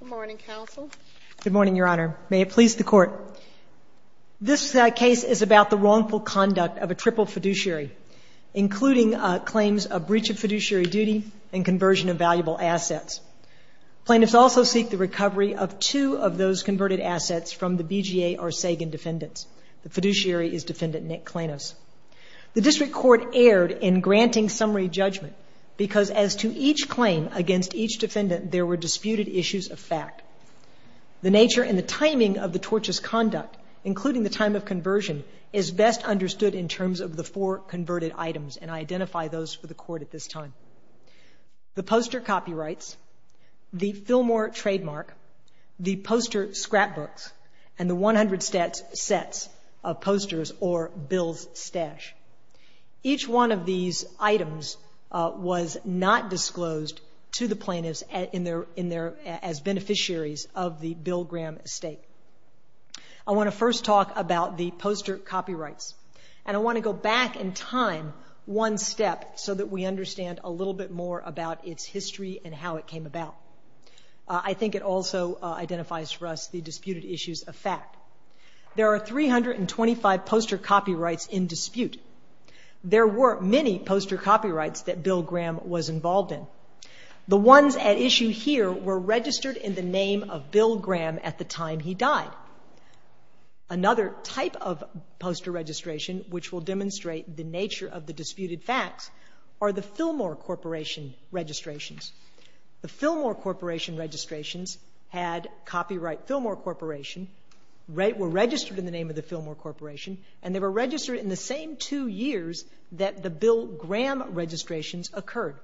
Good morning, Your Honor. May it please the Court. This case is about the wrongful conduct of a triple fiduciary, including claims of breach of fiduciary duty and conversion of valuable assets. Plaintiffs also seek the recovery of two of those converted assets from the BGA or Sagan defendants. The fiduciary is Defendant Nick Clainos. The District Court erred in granting summary judgment because as to each claim against each defendant, there were disputed issues of fact. The nature and the timing of the tortious conduct, including the time of conversion, is best understood in terms of the four converted items, and I identify those for the Court at this time. The poster copyrights, the Fillmore trademark, the poster scrapbooks, and the 100 sets of posters or bills stash. Each one of these items was not disclosed to the plaintiffs as beneficiaries of the Bill Graham estate. I want to first talk about the poster copyrights, and I want to go back in time one step so that we understand a little bit more about its history and how it came about. I think it also identifies for us the disputed issues of fact. There are 325 poster copyrights in that Bill Graham was involved in. The ones at issue here were registered in the name of Bill Graham at the time he died. Another type of poster registration, which will demonstrate the nature of the disputed facts, are the Fillmore Corporation registrations. The Fillmore Corporation registrations had copyright Fillmore Corporation, were registered in the name of the Fillmore Corporation, and they were registered in the same two years that the Bill Graham registrations occurred.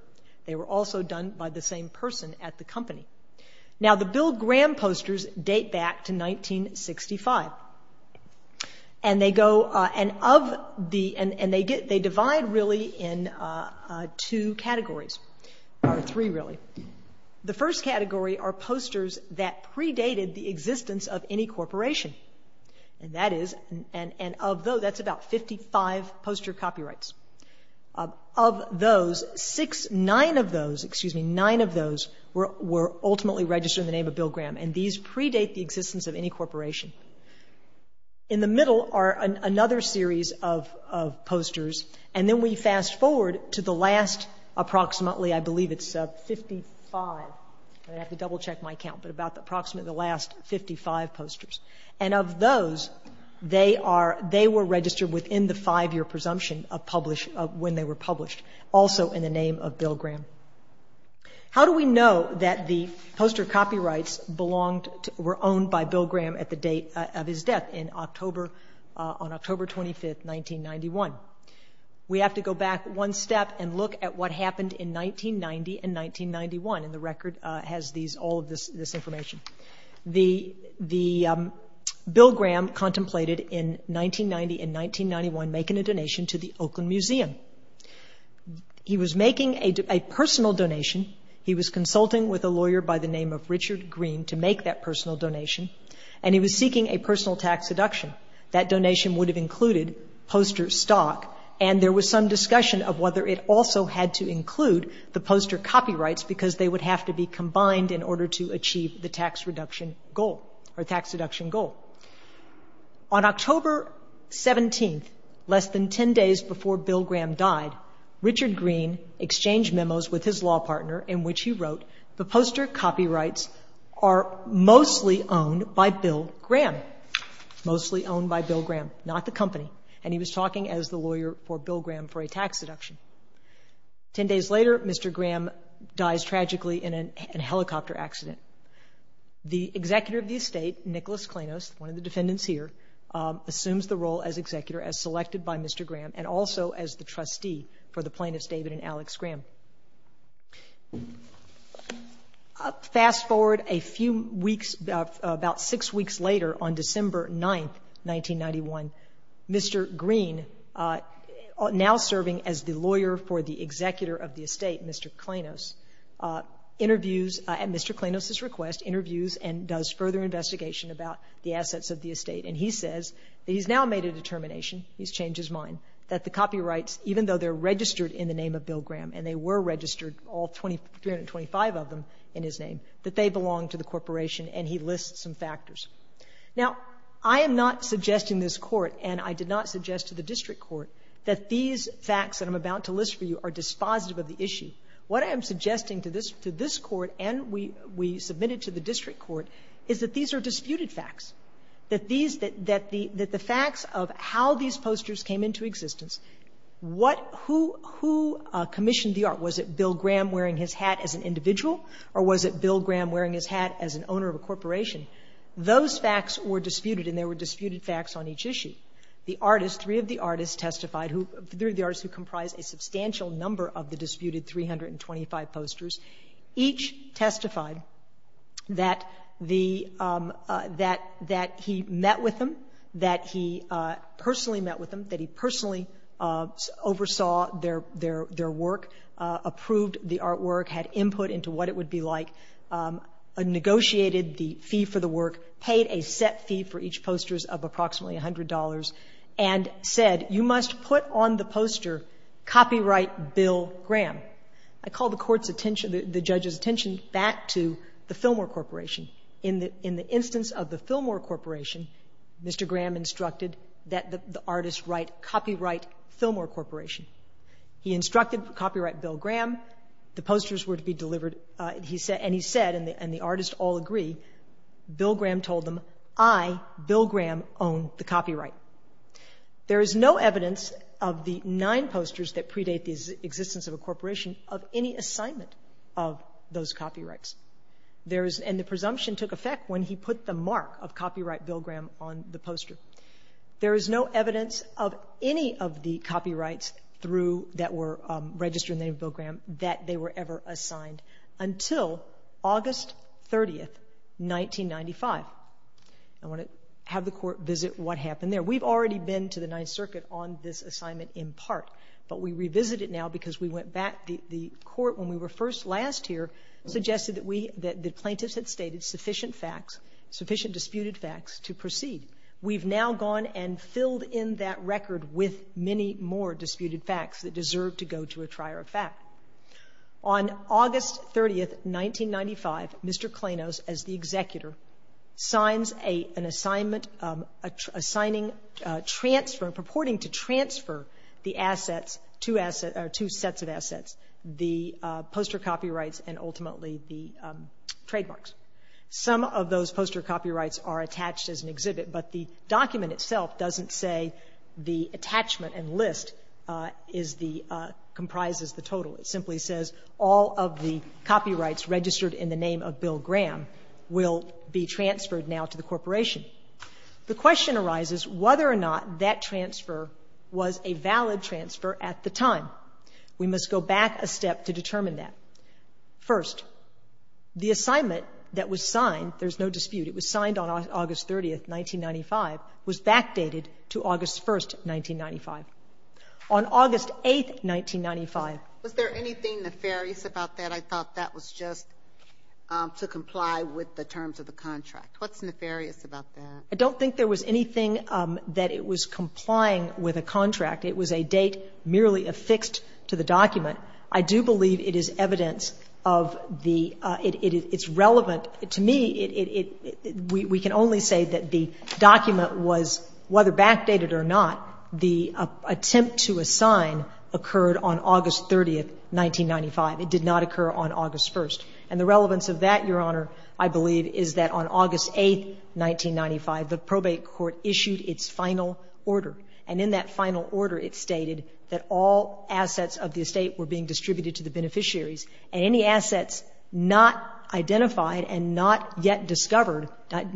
They were also done by the same person at the company. Now, the Bill Graham posters date back to 1965, and they go, and of the, and they divide really in 2 categories, or 3 really. The first category are posters that predated the existence of any corporation, and that is, and of those, that's about 55 poster copyrights. Of those, 6, 9 of those, excuse me, 9 of those were ultimately registered in the name of Bill Graham, and these predate the existence of any corporation. In the middle are another series of posters, and then we fast forward to the last approximately, I believe it's of 55. I'm going to have to double check my count, but about approximately the last 55 posters. And of those, they are, they were registered within the 5-year presumption of publish, of when they were published, also in the name of Bill Graham. How do we know that the poster copyrights belonged to, were owned by Bill Graham at the date of his death, in October, on October 25, 1991? We have to go back one step and look at what happened in 1990 and 1991, and the record has these, all of this information. The, the, Bill Graham contemplated in 1990 and 1991 making a donation to the Oakland Museum. He was making a personal donation, he was consulting with a lawyer by the name of Richard Green to make that personal donation, and he was seeking a personal tax deduction. That donation would have included poster stock, and there was some discussion of whether it also had to include the poster copyrights, because they would have to be combined in order to achieve the tax reduction goal, or tax deduction goal. On October 17th, less than 10 days before Bill Graham died, Richard Green exchanged memos with his law partner in which he wrote, the poster copyrights are mostly owned by Bill Graham, mostly owned by Bill Graham, not the company, and he was talking as the lawyer for Bill Graham for a tax deduction. Ten days later, Mr. Graham dies tragically in an, in a helicopter accident. The executor of the estate, Nicholas Klanos, one of the defendants here, assumes the role as executor as selected by Mr. Graham, and also as the trustee for the plaintiffs, David and Alex Graham. Fast forward a few years later, a few weeks, about six weeks later, on December 9th, 1991, Mr. Green, now serving as the lawyer for the executor of the estate, Mr. Klanos, interviews, at Mr. Klanos' request, interviews and does further investigation about the assets of the estate, and he says that he's now made a determination, he's changed his mind, that the copyrights, even though they're registered in the name of Bill Graham, and they were registered, all 325 of them in his name, that they belong to the corporation, and he lists some factors. Now, I am not suggesting this court, and I did not suggest to the district court, that these facts that I'm about to list for you are dispositive of the issue. What I am suggesting to this, to this court, and we, we submitted to the district court, is that these are disputed facts. That these, that the, that the facts of how these posters came into existence, what, who, who commissioned the art? Was it Bill Graham wearing his hat as an individual, or was it Bill Graham wearing his hat as an owner of a corporation? Those facts were disputed, and there were disputed facts on each issue. The artist, 3 of the artists testified, who, 3 of the artists who comprised a substantial number of the disputed 325 posters, each testified that the, that, that he met with them, that he personally met with them, that he personally oversaw their, their, their work, approved the artwork, had input into what it would be like, negotiated the fee for the work, paid a set fee for each posters of approximately $100, and said, you must put on the poster, copyright Bill Graham. I call the court's attention, the, the judge's attention back to the Fillmore Corporation. In the, in the instance of the Fillmore Corporation, Mr. Graham instructed that the, the artist write copyright Fillmore Corporation. He instructed copyright Bill Graham, the posters were to be delivered, he said, and he said, and the, and the artist all agree, Bill Graham told them, I, Bill Graham, own the copyright. There is no evidence of the 9 posters that predate the existence of a corporation of any assignment of those copyrights. There is, and the presumption took effect when he put the mark of copyright Bill Graham on the poster. There is no evidence of any of the copyrights through, that were registered in the name of Bill Graham, that they were ever assigned until August 30, 1995. I want to have the court visit what happened there. We've already been to the 9th Circuit on this assignment in part, but we revisit it now because we went back, the, the court when we were first last here, suggested that we, that the plaintiffs had stated sufficient facts, sufficient disputed facts to proceed. We've now gone and filled in that record with many more disputed facts that deserve to go to a trier of fact. On August 30, 1995, Mr. Klainos, as the executor, signs a, an assignment, assigning transfer, purporting to transfer the assets, two assets, or two sets of assets, the poster copyrights and ultimately the trademarks. Some of those poster copyrights are attached as an exhibit, but the document itself doesn't say the attachment and list is the, comprises the total. It simply says all of the copyrights registered in the name of Bill Graham will be transferred now to the corporation. The question arises whether or not that transfer was a valid transfer at the time. We must go back a step to determine that. First, the assignment that was signed, there's no dispute, it was signed on August 30th, 1995, was backdated to August 1st, 1995. On August 8th, 1995. Was there anything nefarious about that? I thought that was just to comply with the terms of the contract. What's nefarious about that? I don't think there was anything that it was complying with a contract. It was a date merely affixed to the document. I do believe it is evidence of the, it's relevant. To me, it, we can only say that the document was, whether backdated or not, the attempt to assign occurred on August 30th, 1995. It did not occur on August 1st. And the relevance of that, Your Honor, I believe is that on August 8th, 1995, the probate court issued its final order. And in that final order, it stated that all assets of the estate were being distributed to the beneficiaries, and any assets not identified and not yet discovered,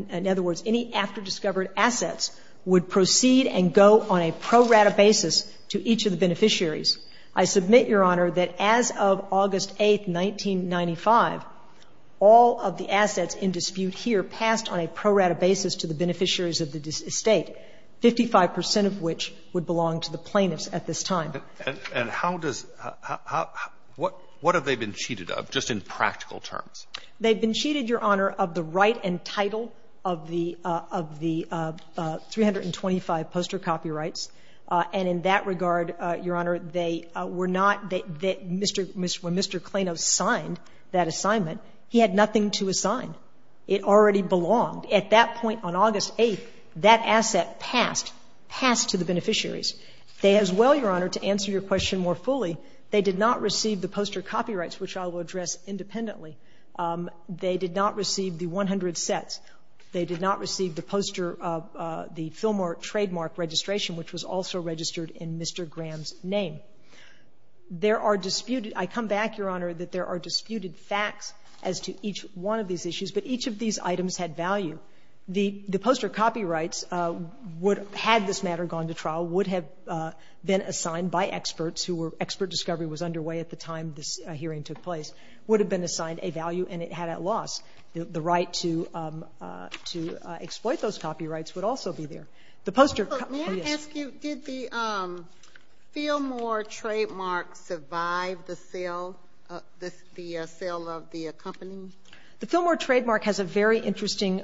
in other words, any after-discovered assets, would proceed and go on a pro rata basis to each of the beneficiaries. I submit, Your Honor, that as of August 8th, 1995, all of the assets in dispute here passed on a pro rata basis to the beneficiaries of the estate. Fifty-five percent of which would belong to the plaintiffs at this time. And how does, what have they been cheated of, just in practical terms? They've been cheated, Your Honor, of the right and title of the 325 poster copyrights. And in that regard, Your Honor, they were not, when Mr. Klainos signed that assignment, he had nothing to assign. It already belonged. At that point on August 8th, that asset passed, passed to the beneficiaries. They as well, Your Honor, to answer your question more fully, they did not receive the poster copyrights, which I will address independently. They did not receive the 100 sets. They did not receive the poster, the Philmark trademark registration, which was also registered in Mr. Graham's name. There are disputed, I come back, Your Honor, that there are disputed facts as to each one of these issues, but each of these items had value. The poster copyrights would, had this matter gone to trial, would have been assigned by experts who were, expert discovery was underway at the time this hearing took place, would have been assigned a value and it had at loss. The right to exploit those copyrights would also be there. The poster, oh, yes. May I ask you, did the Philmark trademark survive the sale, the sale of the company? The Philmark trademark has a very interesting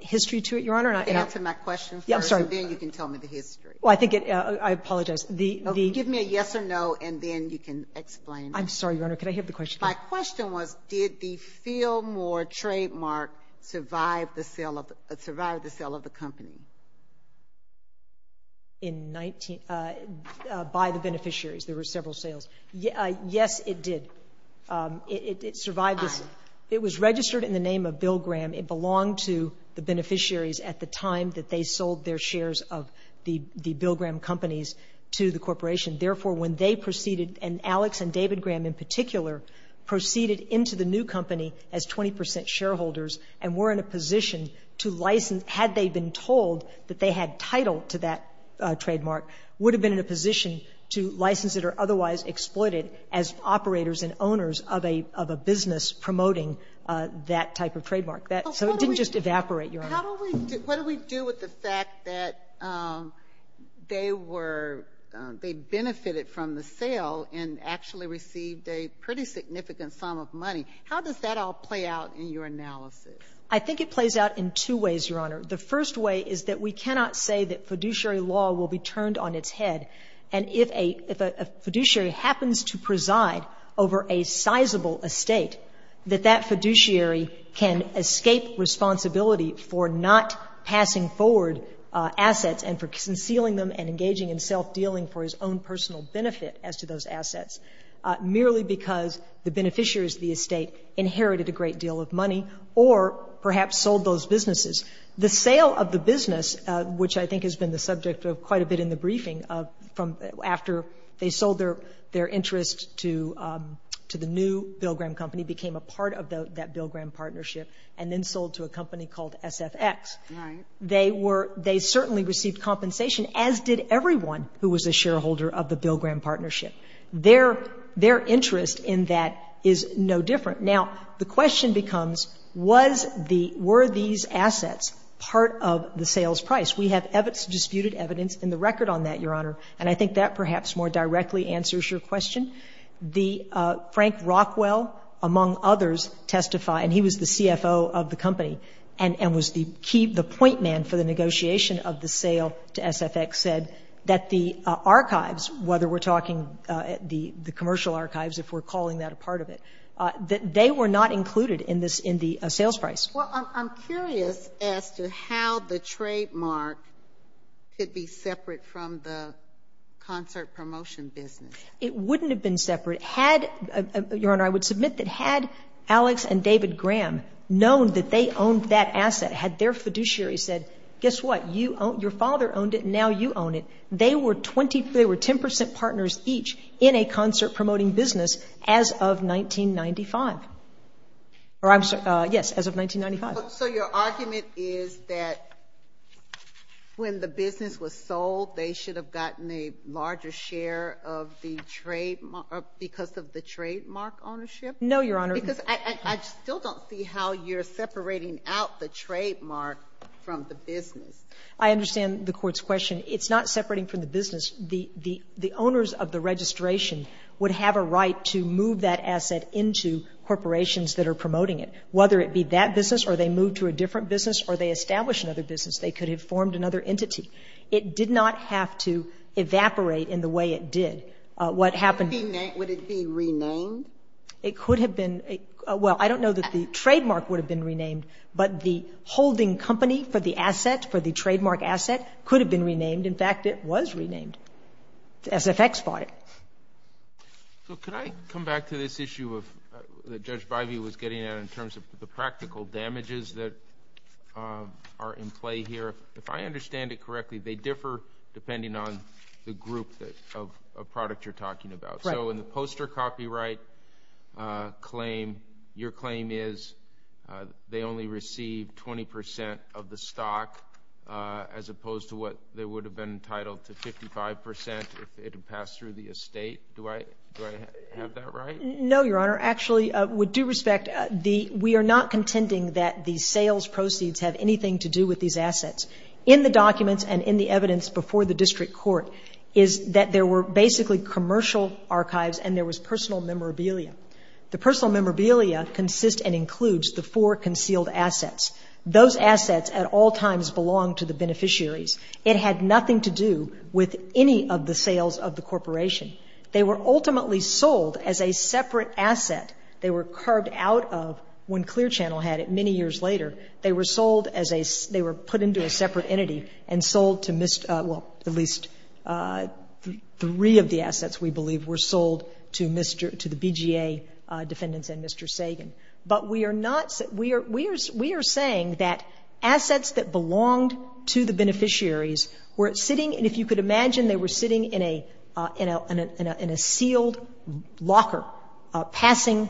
history to it, Your Honor. Answer my question first, and then you can tell me the history. Well, I think it, I apologize. Give me a yes or no, and then you can explain. I'm sorry, Your Honor, can I hear the question again? My question was, did the Philmark trademark survive the sale of, survive the sale of the company? In 19, by the beneficiaries, there were several sales. Yes, it did. It survived the sale. It was registered in the name of Bill Graham. It belonged to the beneficiaries at the time that they sold their shares of the Bill Graham companies to the corporation. Therefore, when they proceeded, and Alex and David Graham in particular, proceeded into the new company as 20 percent shareholders and were in a position to license, had they been told that they had title to that trademark, would have been in a position to license it or otherwise exploit it as operators and owners of a, of a business promoting that type of trademark. So it didn't just evaporate, Your Honor. How do we, what do we do with the fact that they were, they benefited from the sale and actually received a pretty significant sum of money? How does that all play out in your analysis? I think it plays out in two ways, Your Honor. The first way is that we cannot say that fiduciary law will be turned on its head, and if a, if a fiduciary happens to preside over a sizable estate, that that fiduciary can escape responsibility for not passing forward assets and for concealing them and engaging in self-dealing for his own personal benefit as to those assets merely because the beneficiaries of the estate inherited a great deal of money or perhaps sold those businesses. The sale of the business, which I think has been the subject of quite a bit in the that Bill Graham partnership and then sold to a company called SFX. Right. They were, they certainly received compensation, as did everyone who was a shareholder of the Bill Graham partnership. Their, their interest in that is no different. Now, the question becomes, was the, were these assets part of the sales price? We have disputed evidence in the record on that, Your Honor, and I think that perhaps more directly answers your question. The, Frank Rockwell, among others, testified, and he was the CFO of the company and, and was the key, the point man for the negotiation of the sale to SFX, said that the archives, whether we're talking the, the commercial archives, if we're calling that a part of it, that they were not included in this, in the sales price. Well, I'm, I'm curious as to how the trademark could be separate from the concert promotion business. It wouldn't have been separate. Had, Your Honor, I would submit that had Alex and David Graham known that they owned that asset, had their fiduciary said, guess what, you own, your father owned it and now you own it, they were 20, they were 10% partners each in a concert promoting business as of 1995. Or I'm, yes, as of 1995. So your argument is that when the business was sold, they should have gotten a larger share of the trademark because of the trademark ownership? No, Your Honor. Because I, I still don't see how you're separating out the trademark from the business. I understand the Court's question. It's not separating from the business. The, the, the owners of the registration would have a right to move that asset into corporations that are promoting it, whether it be that business or they move to a different business or they establish another business. They could have formed another entity. It did not have to evaporate in the way it did. What happened. Would it be renamed? It could have been. Well, I don't know that the trademark would have been renamed, but the holding company for the asset, for the trademark asset, could have been renamed. In fact, it was renamed. SFX bought it. So could I come back to this issue of, that Judge Bivey was getting at in terms of the practical damages that are in play here? If, if I understand it correctly, they differ depending on the group that, of, of product you're talking about. Right. So in the poster copyright claim, your claim is they only received 20 percent of the stock as opposed to what they would have been entitled to 55 percent if it had passed through the estate. Do I, do I have that right? No, Your Honor. Actually, with due respect, the, we are not contending that the sales proceeds have anything to do with these assets. In the documents and in the evidence before the district court is that there were basically commercial archives and there was personal memorabilia. The personal memorabilia consists and includes the four concealed assets. Those assets at all times belong to the beneficiaries. It had nothing to do with any of the sales of the corporation. They were ultimately sold as a separate asset. They were carved out of when Clear Channel had it many years later. They were sold as a, they were put into a separate entity and sold to, well, at least three of the assets, we believe, were sold to Mr., to the BGA defendants and Mr. Sagan. But we are not, we are, we are, we are saying that assets that belonged to the beneficiaries were sitting, and if you could imagine, they were sitting in a, in a, in a, in a sealed locker passing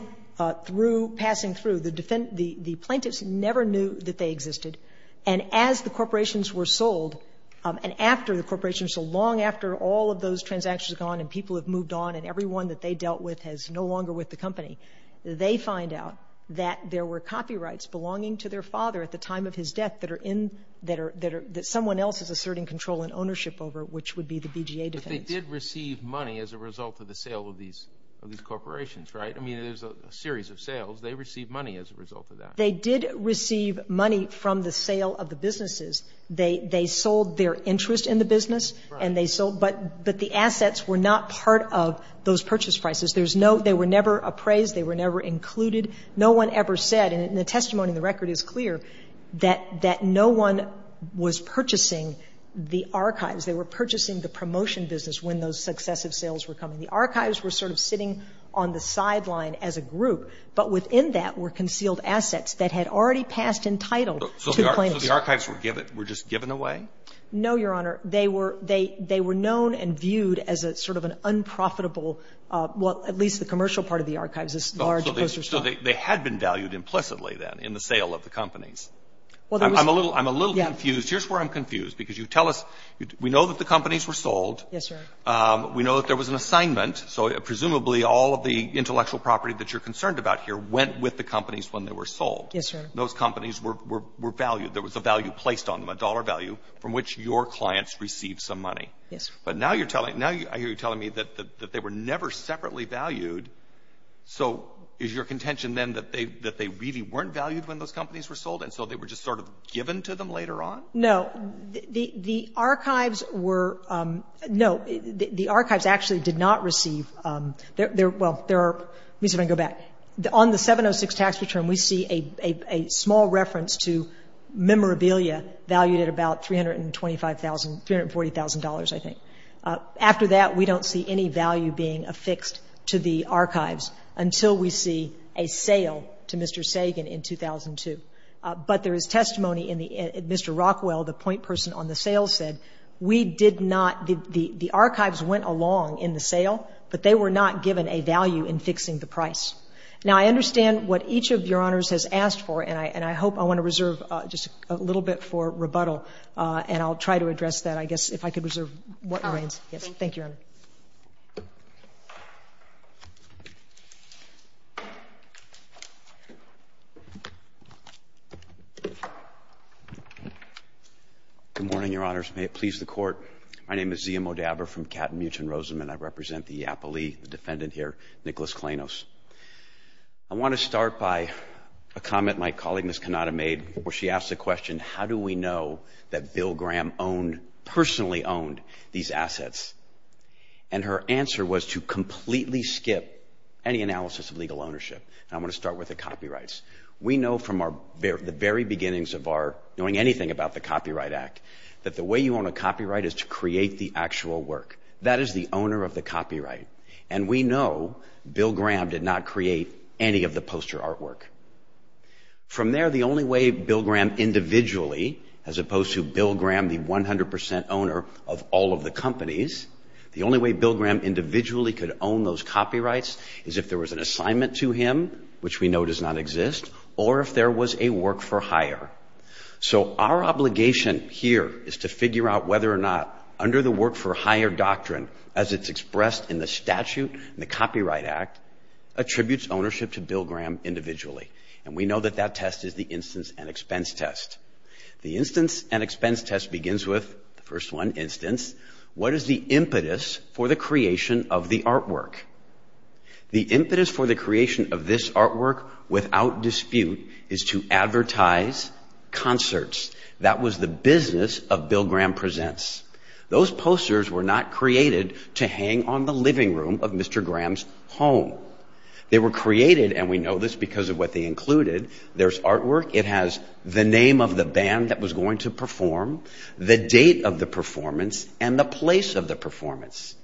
through, passing through. The plaintiffs never knew that they existed. And as the corporations were sold, and after the corporations, so long after all of those transactions are gone and people have moved on and everyone that they dealt with has no longer with the company, they find out that there were copyrights belonging to their father at the time of his death that are in, that are, that someone else is asserting control and ownership over, which would be the BGA defendants. But they did receive money as a result of the sale of these, of these corporations, right? I mean, there's a series of sales. They received money as a result of that. They did receive money from the sale of the businesses. They, they sold their interest in the business. Right. And they sold, but, but the assets were not part of those purchase prices. There's no, they were never appraised. They were never included. No one ever said, and the testimony in the record is clear, that, that no one was purchasing the archives. They were purchasing the promotion business when those successive sales were coming. The archives were sort of sitting on the sideline as a group, but within that were concealed assets that had already passed in title to the plaintiffs. So the archives were given, were just given away? No, Your Honor. They were, they, they were known and viewed as a sort of an unprofitable, well, at least the commercial part of the archives, this large poster stock. So they, they had been valued implicitly then in the sale of the companies. Well, there was. I'm a little, I'm a little confused. Yes. Here's where I'm confused, because you tell us, we know that the companies were sold. Yes, Your Honor. We know that there was an assignment. So presumably all of the intellectual property that you're concerned about here went with the companies when they were sold. Yes, Your Honor. Those companies were, were, were valued. There was a value placed on them, a dollar value, from which your clients received some money. Yes, Your Honor. But now you're telling, now you're telling me that, that they were never separately valued. So is your contention then that they, that they really weren't valued when those companies were sold, and so they were just sort of given to them later on? No. The, the archives were, no, the archives actually did not receive, there, there, well, there are, let me see if I can go back. On the 706 tax return, we see a, a, a small reference to memorabilia valued at about $325,000, $340,000, I think. After that, we don't see any value being affixed to the archives until we see a sale to Mr. Sagan in 2002. But there is testimony in the, Mr. Rockwell, the point person on the sale said, we did not, the, the, the archives went along in the sale, but they were not given a value in fixing the price. Now, I understand what each of Your Honors has asked for, and I, and I hope I want to reserve just a little bit for rebuttal, and I'll try to address that, I guess, if I could reserve what remains. Thank you. Thank you, Your Honor. Good morning, Your Honors. May it please the Court. My name is Zia Modabber from Cap-Mewton-Roseman. I represent the appellee, the defendant here, Nicholas Klainos. I want to start by a comment my colleague, Ms. Cannata, made where she asked the and her answer was to completely skip any analysis of legal ownership. And I'm going to start with the copyrights. We know from our, the very beginnings of our knowing anything about the Copyright Act that the way you own a copyright is to create the actual work. That is the owner of the copyright. And we know Bill Graham did not create any of the poster artwork. From there, the only way Bill Graham individually, as opposed to Bill Graham, the 100 percent owner of all of the companies, the only way Bill Graham individually could own those copyrights is if there was an assignment to him, which we know does not exist, or if there was a work-for-hire. So our obligation here is to figure out whether or not, under the work-for-hire doctrine, as it's expressed in the statute in the Copyright Act, attributes ownership to Bill Graham individually. And we know that that test is the instance and expense test. The instance and expense test begins with, the first one, instance. What is the impetus for the creation of the artwork? The impetus for the creation of this artwork, without dispute, is to advertise concerts. That was the business of Bill Graham Presents. Those posters were not created to hang on the living room of Mr. Graham's home. They were created, and we know this because of what they included, there's artwork, it has the name of the band that was going to perform, the date of the performance, and the place of the performance.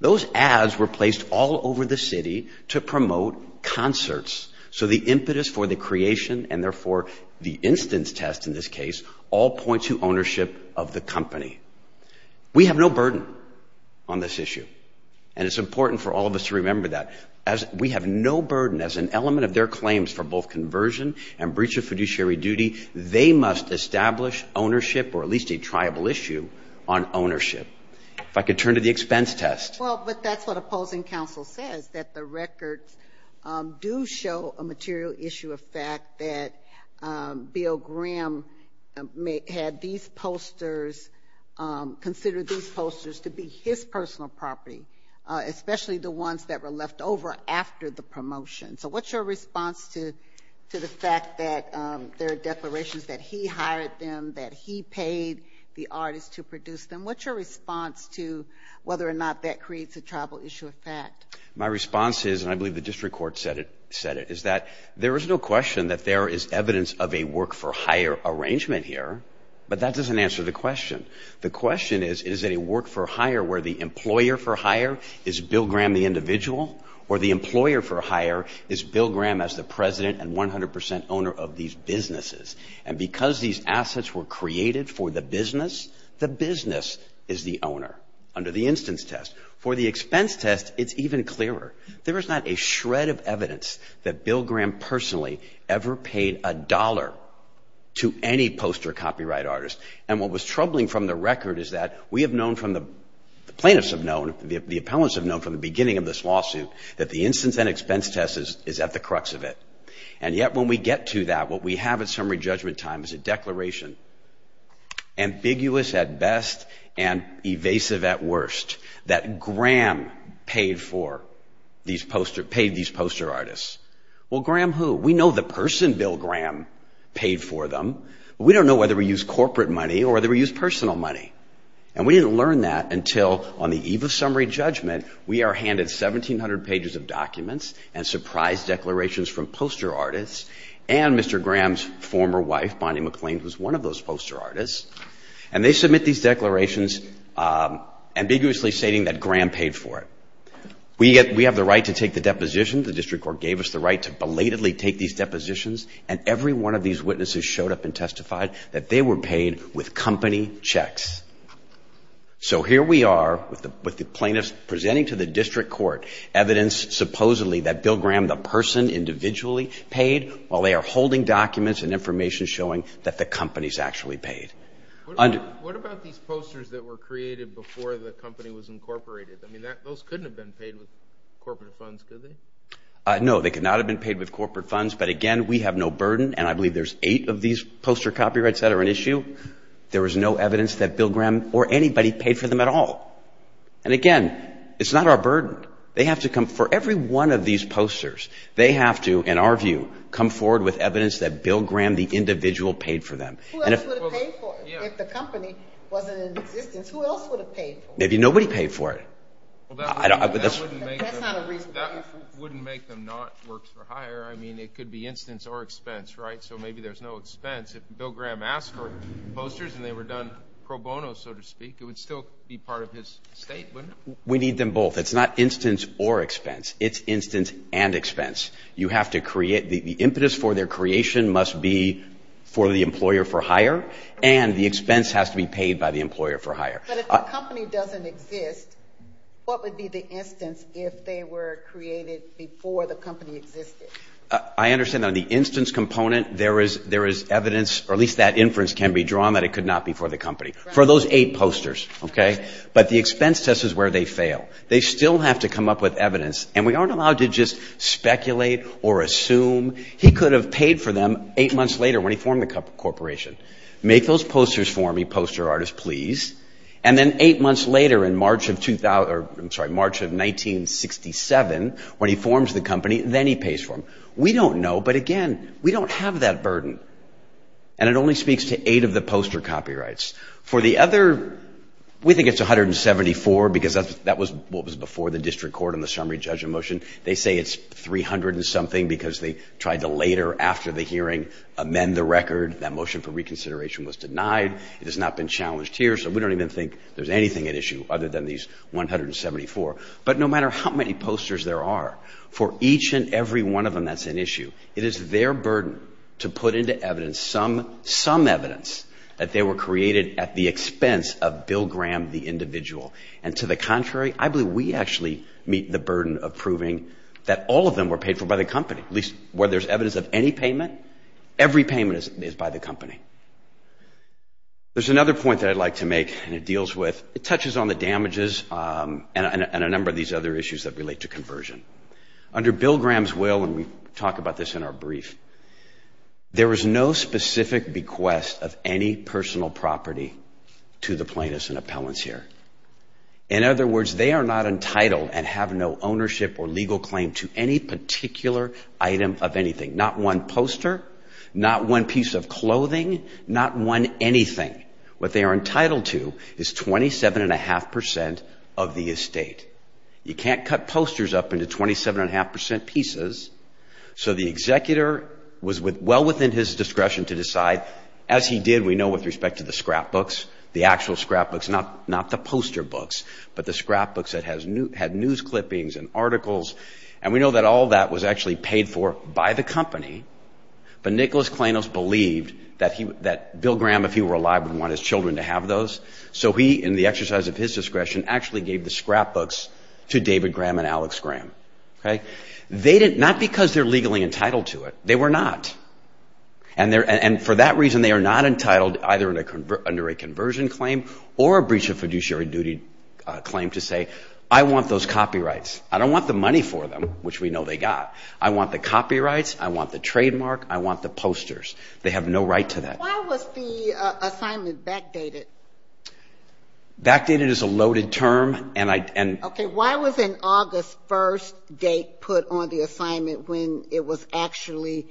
Those ads were placed all over the city to promote concerts. So the impetus for the creation, and therefore the instance test in this case, all point to ownership of the company. We have no burden on this issue, and it's important for all of us to remember that. We have no burden as an element of their claims for both conversion and breach of fiduciary duty. They must establish ownership, or at least a triable issue, on ownership. If I could turn to the expense test. Well, but that's what opposing counsel says, that the records do show a material issue of fact that Bill Graham had these posters, considered these posters to be his personal property, especially the ones that were left over after the promotion. So what's your response to the fact that there are declarations that he hired them, that he paid the artist to produce them? What's your response to whether or not that creates a triable issue of fact? My response is, and I believe the district court said it, is that there is no question that there is evidence of a work for hire arrangement here, but that doesn't answer the question. The question is, is it a work for hire where the employer for hire is Bill Graham the individual, or the employer for hire is Bill Graham as the president and 100 percent owner of these businesses? And because these assets were created for the business, the business is the owner, under the instance test. For the expense test, it's even clearer. There is not a shred of evidence that Bill Graham personally ever paid a dollar to any poster copyright artist. And what was troubling from the record is that we have known from the plaintiffs have known, the appellants have known from the beginning of this lawsuit, that the instance and expense test is at the crux of it. And yet when we get to that, what we have at summary judgment time is a declaration, ambiguous at best and evasive at worst, that Graham paid these poster artists. Well, Graham who? We know the person, Bill Graham, paid for them. We don't know whether he used corporate money or whether he used personal money. And we didn't learn that until on the eve of summary judgment, we are handed 1,700 pages of documents and surprise declarations from poster artists and Mr. Graham's former wife, Bonnie McLean, was one of those poster artists. And they submit these declarations ambiguously stating that Graham paid for it. We have the right to take the deposition. The district court gave us the right to belatedly take these depositions, and every one of these witnesses showed up and testified that they were paid with company checks. So here we are with the plaintiffs presenting to the district court evidence supposedly that Bill Graham, the person individually paid, while they are holding documents and information showing that the company is actually paid. What about these posters that were created before the company was incorporated? I mean, those couldn't have been paid with corporate funds, could they? No, they could not have been paid with corporate funds. But, again, we have no burden, and I believe there's eight of these poster copyrights that are an issue. There was no evidence that Bill Graham or anybody paid for them at all. And, again, it's not our burden. They have to come for every one of these posters. They have to, in our view, come forward with evidence that Bill Graham, the individual, paid for them. Who else would have paid for it if the company wasn't in existence? Who else would have paid for it? Maybe nobody paid for it. That's not a reasonable guess. But that wouldn't make them not works for hire. I mean, it could be instance or expense, right? So maybe there's no expense. If Bill Graham asked for posters and they were done pro bono, so to speak, it would still be part of his estate, wouldn't it? We need them both. It's not instance or expense. It's instance and expense. You have to create the impetus for their creation must be for the employer for hire, and the expense has to be paid by the employer for hire. But if the company doesn't exist, what would be the instance if they were created before the company existed? I understand on the instance component there is evidence, or at least that inference can be drawn, that it could not be for the company. For those eight posters, okay? But the expense test is where they fail. They still have to come up with evidence, and we aren't allowed to just speculate or assume. He could have paid for them eight months later when he formed the corporation. Make those posters for me, poster artist, please. And then eight months later in March of 1967 when he forms the company, then he pays for them. We don't know, but again, we don't have that burden. And it only speaks to eight of the poster copyrights. For the other, we think it's 174 because that was before the district court and the summary judgment motion. They say it's 300 and something because they tried to later after the hearing amend the record. That motion for reconsideration was denied. It has not been challenged here, so we don't even think there's anything at issue other than these 174. But no matter how many posters there are, for each and every one of them that's an issue, it is their burden to put into evidence some evidence that they were created at the expense of Bill Graham, the individual. And to the contrary, I believe we actually meet the burden of proving that all of them were paid for by the company. At least where there's evidence of any payment, every payment is by the company. There's another point that I'd like to make and it deals with, it touches on the damages and a number of these other issues that relate to conversion. Under Bill Graham's will, and we talk about this in our brief, there was no specific bequest of any personal property to the plaintiffs and appellants here. In other words, they are not entitled and have no ownership or legal claim to any particular item of anything. Not one poster, not one piece of clothing, not one anything. What they are entitled to is 27.5% of the estate. You can't cut posters up into 27.5% pieces. So the executor was well within his discretion to decide, as he did, we know, with respect to the scrapbooks, the actual scrapbooks, not the poster books, but the scrapbooks that had news clippings and articles. And we know that all that was actually paid for by the company. But Nicholas Klainos believed that Bill Graham, if he were alive, would want his children to have those. So he, in the exercise of his discretion, actually gave the scrapbooks to David Graham and Alex Graham. Not because they're legally entitled to it, they were not. And for that reason, they are not entitled either under a conversion claim or a breach of fiduciary duty claim to say, I want those copyrights. I don't want the money for them, which we know they got. I want the copyrights, I want the trademark, I want the posters. They have no right to that. Why was the assignment backdated? Backdated is a loaded term. Okay. Why was an August 1st date put on the assignment when it was actually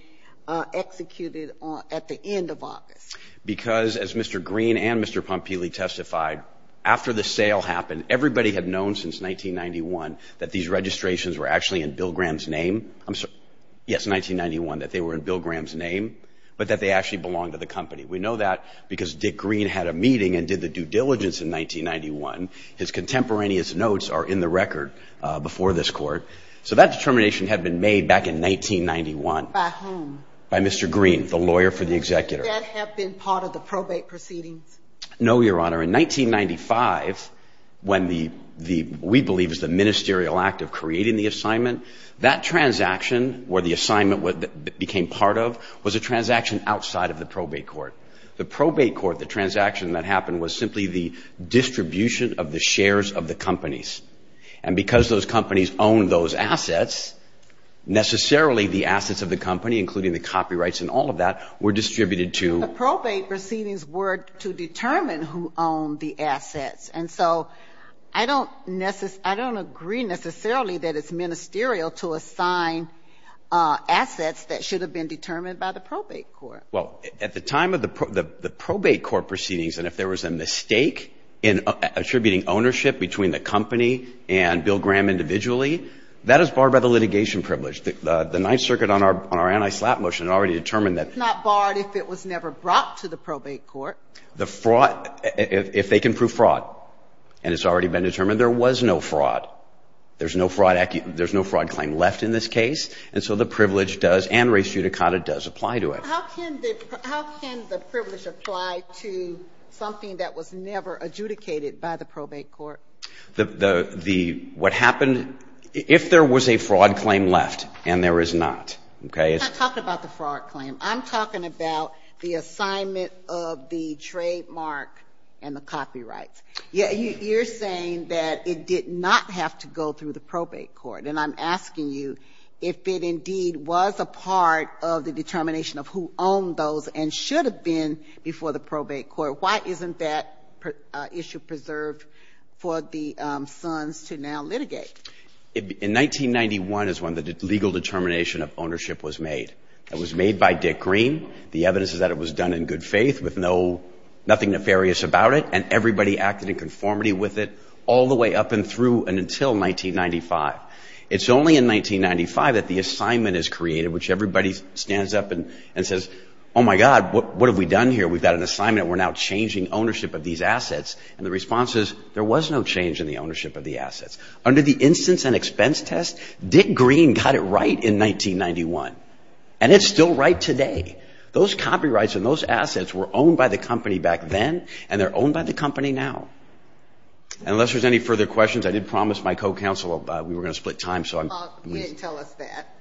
executed at the end of August? Because, as Mr. Green and Mr. Pompili testified, after the sale happened, everybody had known since 1991 that these registrations were actually in Bill Graham's name. Yes, 1991, that they were in Bill Graham's name, but that they actually belonged to the company. We know that because Dick Green had a meeting and did the due diligence in 1991. His contemporaneous notes are in the record before this court. So that determination had been made back in 1991. By whom? By Mr. Green, the lawyer for the executor. Did that have been part of the probate proceedings? No, Your Honor. In 1995, when we believe it was the ministerial act of creating the assignment, that transaction where the assignment became part of was a transaction outside of the probate court. The probate court, the transaction that happened was simply the distribution of the shares of the companies. And because those companies owned those assets, necessarily the assets of the company, including the copyrights and all of that, were distributed to... The probate proceedings were to determine who owned the assets. And so I don't agree necessarily that it's ministerial to assign assets that should have been determined by the probate court. Well, at the time of the probate court proceedings, and if there was a mistake in attributing ownership between the company and Bill Graham individually, that is barred by the litigation privilege. The Ninth Circuit on our anti-slap motion already determined that... It's not barred if it was never brought to the probate court. The fraud, if they can prove fraud, and it's already been determined there was no fraud. There's no fraud claim left in this case. And so the privilege does, and res judicata, does apply to it. How can the privilege apply to something that was never adjudicated by the probate court? What happened, if there was a fraud claim left, and there is not... I'm not talking about the fraud claim. I'm talking about the assignment of the trademark and the copyrights. You're saying that it did not have to go through the probate court. And I'm asking you if it indeed was a part of the determination of who owned those and should have been before the probate court. Why isn't that issue preserved for the sons to now litigate? In 1991 is when the legal determination of ownership was made. It was made by Dick Green. The evidence is that it was done in good faith with nothing nefarious about it, and everybody acted in conformity with it all the way up and through and until 1995. It's only in 1995 that the assignment is created, which everybody stands up and says, Oh, my God, what have we done here? We've got an assignment, and we're now changing ownership of these assets. And the response is, there was no change in the ownership of the assets. Under the instance and expense test, Dick Green got it right in 1991. And it's still right today. Those copyrights and those assets were owned by the company back then, and they're owned by the company now. Unless there's any further questions, I did promise my co-counsel we were going to split time. You didn't tell us that.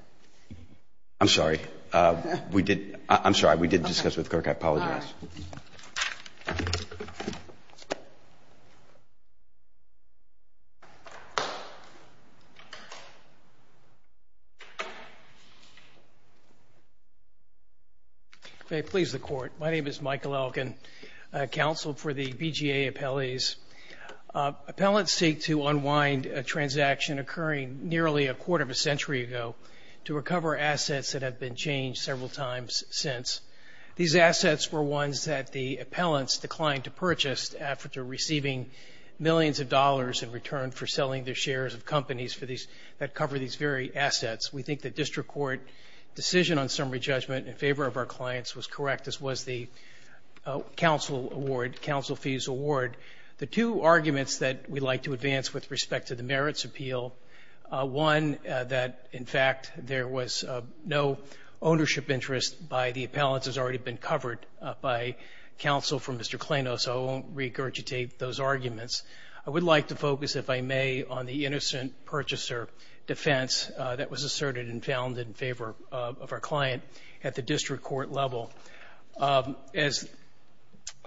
I'm sorry. I'm sorry. We did discuss it with Kirk. I apologize. May it please the Court. My name is Michael Elkin, counsel for the BGA appellees. Appellants seek to unwind a transaction occurring nearly a quarter of a century ago to recover assets that have been changed several times since. These assets were ones that the appellants declined to purchase after receiving millions of dollars in return for selling their shares of companies that cover these very assets. We think the district court decision on summary judgment in favor of our clients was correct. This was the counsel award, counsel fees award. The two arguments that we'd like to advance with respect to the merits appeal, one that, in fact, there was no ownership interest by the appellants has already been covered by counsel for Mr. Klainos, so I won't regurgitate those arguments. I would like to focus, if I may, on the innocent purchaser defense that was asserted and found in favor of our client at the district court level. As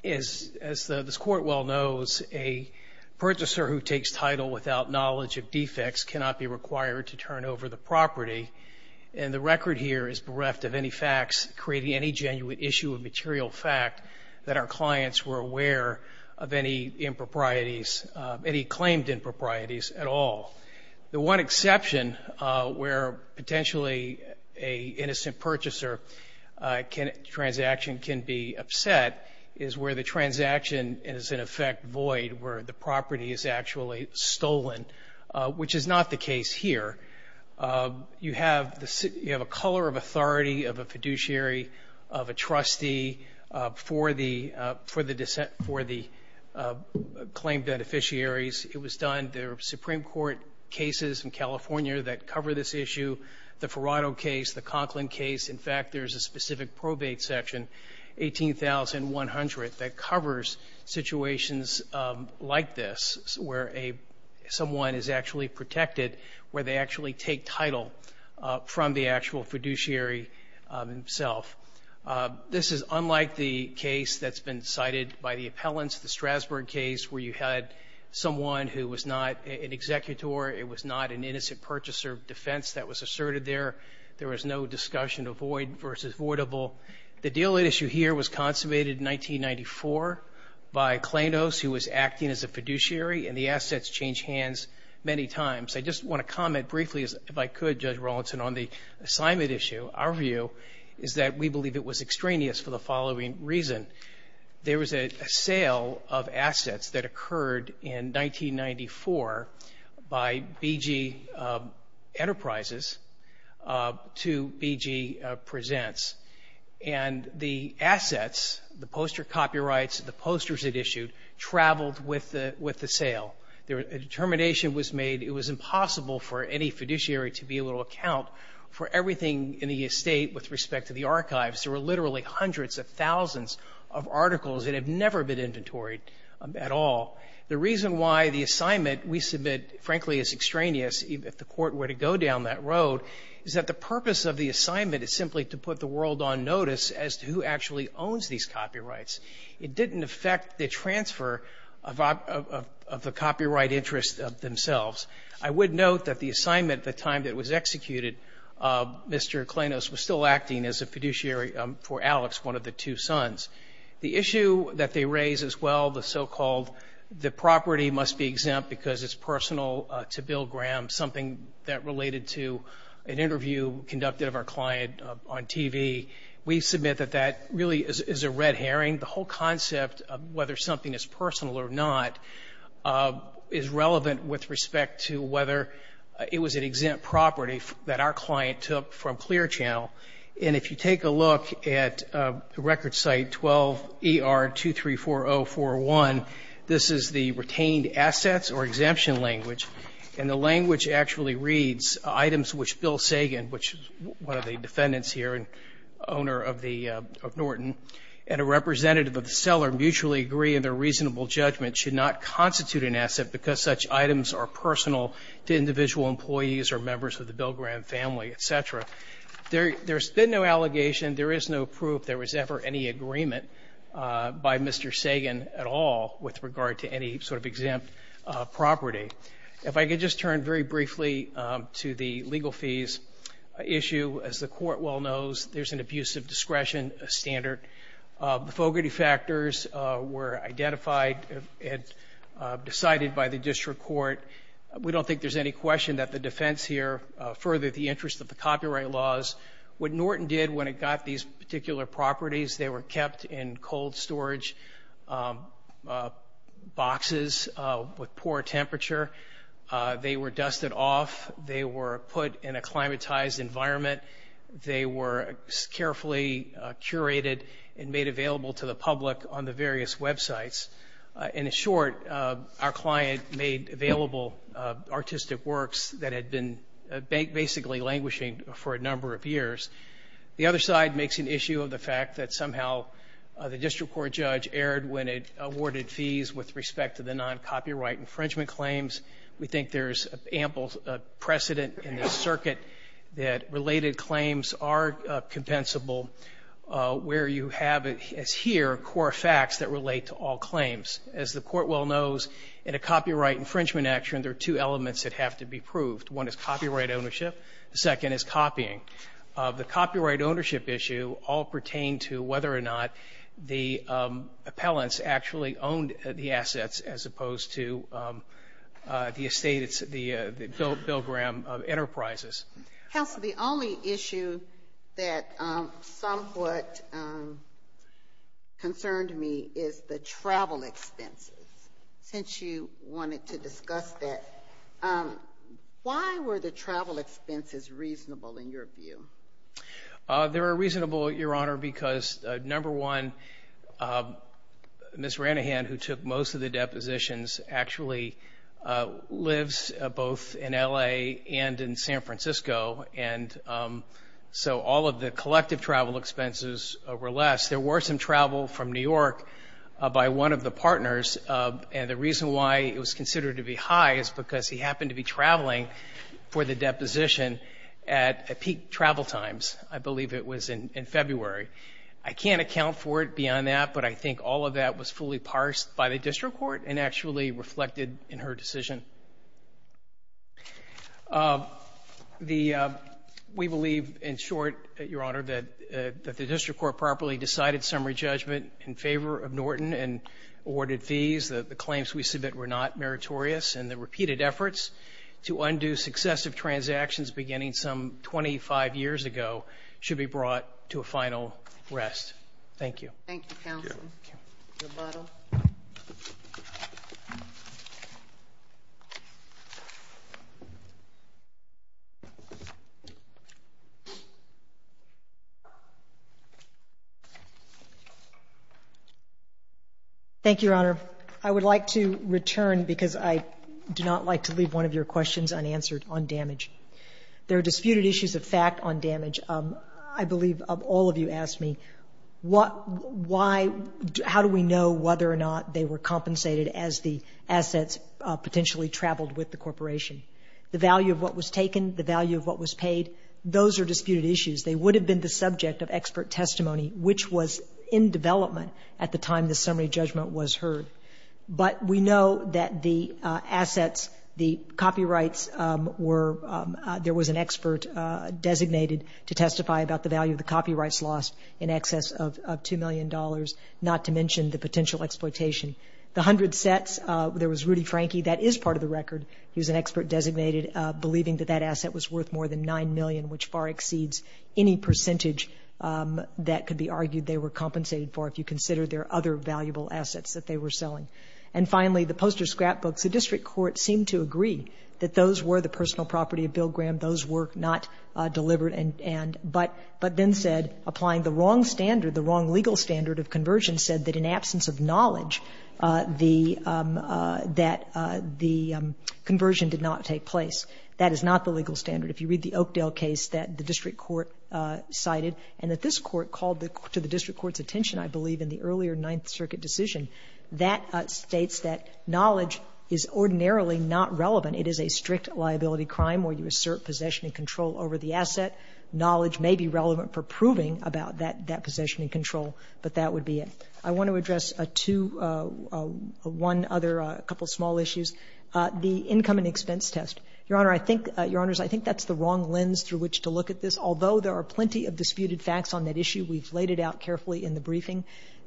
this court well knows, a purchaser who takes title without knowledge of defects cannot be required to turn over the property, and the record here is bereft of any facts creating any genuine issue of material fact that our clients were aware of any improprieties, any claimed improprieties at all. The one exception where potentially an innocent purchaser transaction can be upset is where the transaction is, in effect, void, where the property is actually stolen, which is not the case here. You have a color of authority of a fiduciary of a trustee for the claim debt officiaries. It was done. There are Supreme Court cases in California that cover this issue, the Ferrato case, the Conklin case. In fact, there is a specific probate section, 18,100, that covers situations like this where someone is actually protected, where they actually take title from the actual fiduciary himself. This is unlike the case that's been cited by the appellants, the Strasburg case, where you had someone who was not an executor, it was not an innocent purchaser defense that was asserted there. There was no discussion of void versus voidable. The deal issue here was consummated in 1994 by Klainos, who was acting as a fiduciary, and the assets changed hands many times. I just want to comment briefly, if I could, Judge Rawlinson, on the assignment issue. Our view is that we believe it was extraneous for the following reason. There was a sale of assets that occurred in 1994 by BG Enterprises to BG Presents. And the assets, the poster copyrights, the posters it issued, traveled with the sale. A determination was made it was impossible for any fiduciary to be able to account for everything in the estate with respect to the archives. There were literally hundreds of thousands of articles that had never been inventoried at all. The reason why the assignment we submit, frankly, is extraneous, if the Court were to go down that road, is that the purpose of the assignment is simply to put the world on notice as to who actually owns these copyrights. It didn't affect the transfer of the copyright interest themselves. I would note that the assignment at the time that it was executed, Mr. Klainos was still acting as a fiduciary for Alex, one of the two sons. The issue that they raise as well, the so-called the property must be exempt because it's personal to Bill Graham, something that related to an interview conducted of our client on TV. We submit that that really is a red herring. The whole concept of whether something is personal or not is relevant with respect to whether it was an exempt property that our client took from Clear Channel. And if you take a look at the record site 12 ER 234041, this is the retained assets or exemption language. And the language actually reads, items which Bill Sagan, which is one of the defendants here and owner of Norton, and a representative of the seller mutually agree in their reasonable judgment should not constitute an asset because such items are personal to individual employees or members of the Bill Graham family, et cetera. There's been no allegation, there is no proof there was ever any agreement by Mr. Sagan at all with regard to any sort of exempt property. If I could just turn very briefly to the legal fees issue, as the court well knows, there's an abuse of discretion standard. Fogarty factors were identified and decided by the district court. We don't think there's any question that the defense here furthered the interest of the copyright laws. What Norton did when it got these particular properties, they were kept in cold storage boxes with poor temperature. They were dusted off. They were put in a climatized environment. They were carefully curated and made available to the public on the various websites. In short, our client made available artistic works that had been basically languishing for a number of years. The other side makes an issue of the fact that somehow the district court judge erred when it awarded fees with respect to the non-copyright infringement claims. We think there's ample precedent in this circuit that related claims are compensable where you have as here core facts that relate to all claims. As the court well knows, in a copyright infringement action, there are two elements that have to be proved. One is copyright ownership. The second is copying. The copyright ownership issue all pertain to whether or not the appellants actually owned the assets as opposed to the estate, the Bill Graham Enterprises. Counsel, the only issue that somewhat concerned me is the travel expenses, since you wanted to discuss that. Why were the travel expenses reasonable in your view? They were reasonable, Your Honor, because, number one, Ms. Ranahan, who took most of the depositions, actually lives both in L.A. and in San Francisco, and so all of the collective travel expenses were less. There were some travel from New York by one of the partners, and the reason why it was considered to be high is because he happened to be traveling for the deposition at peak travel times. I believe it was in February. I can't account for it beyond that, but I think all of that was fully parsed by the district court and actually reflected in her decision. The we believe, in short, Your Honor, that the district court properly decided summary judgment in favor of Norton and awarded fees that the claims we submit were not meritorious, and the repeated efforts to undo successive transactions beginning some 25 years ago should be brought to a final rest. Thank you. Thank you, counsel. Your model. Thank you, Your Honor. I would like to return because I do not like to leave one of your questions unanswered on damage. There are disputed issues of fact on damage. I believe all of you asked me what, why, how do we know whether or not they were compensated as the assets potentially traveled with the corporation. The value of what was taken, the value of what was paid, those are disputed issues. They would have been the subject of expert testimony, which was in development at the time the summary judgment was heard. But we know that the assets, the copyrights were, there was an expert designated to testify about the value of the copyrights lost in excess of $2 million, not to mention the potential exploitation. The hundred sets, there was Rudy Franke, that is part of the record. He was an expert designated, believing that that asset was worth more than $9 million, which far exceeds any percentage that could be argued they were compensated for, if you consider their other valuable assets that they were selling. And finally, the poster scrapbooks. The district court seemed to agree that those were the personal property of Bill Graham. Those were not delivered. And but then said, applying the wrong standard, the wrong legal standard of conversion said that in absence of knowledge, the, that the conversion did not take place. That is not the legal standard. If you read the Oakdale case that the district court cited and that this court called to the district court's attention, I believe, in the earlier Ninth Circuit decision, that states that knowledge is ordinarily not relevant. It is a strict liability crime where you assert possession and control over the asset. Knowledge may be relevant for proving about that, that possession and control, but that would be it. I want to address a two, one other, a couple of small issues. The income and expense test. Your Honor, I think, Your Honors, I think that's the wrong lens through which to look at this, although there are plenty of disputed facts on that issue. We've laid it out carefully in the briefing.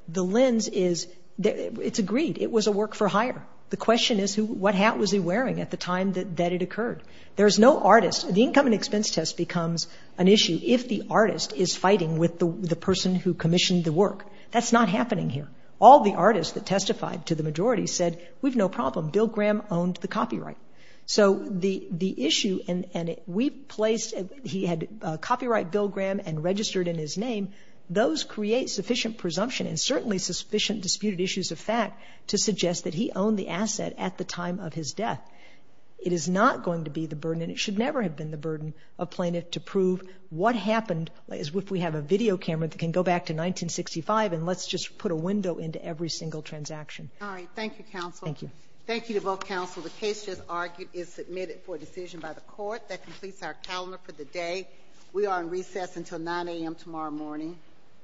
The lens is, it's agreed. It was a work for hire. The question is who, what hat was he wearing at the time that it occurred? There's no artist. The income and expense test becomes an issue if the artist is fighting with the person who commissioned the work. That's not happening here. All the artists that testified to the majority said, we've no problem. Bill Graham owned the copyright. So the issue, and we placed, he had copyrighted Bill Graham and registered in his name. Those create sufficient presumption and certainly sufficient disputed issues of fact to suggest that he owned the asset at the time of his death. It is not going to be the burden, and it should never have been the burden of plaintiff to prove what happened. If we have a video camera that can go back to 1965 and let's just put a window into every single transaction. All right. Thank you, counsel. Thank you. Thank you to both counsel. The case just argued is submitted for decision by the court. That completes our calendar for the day. We are on recess until 9 a.m. tomorrow morning.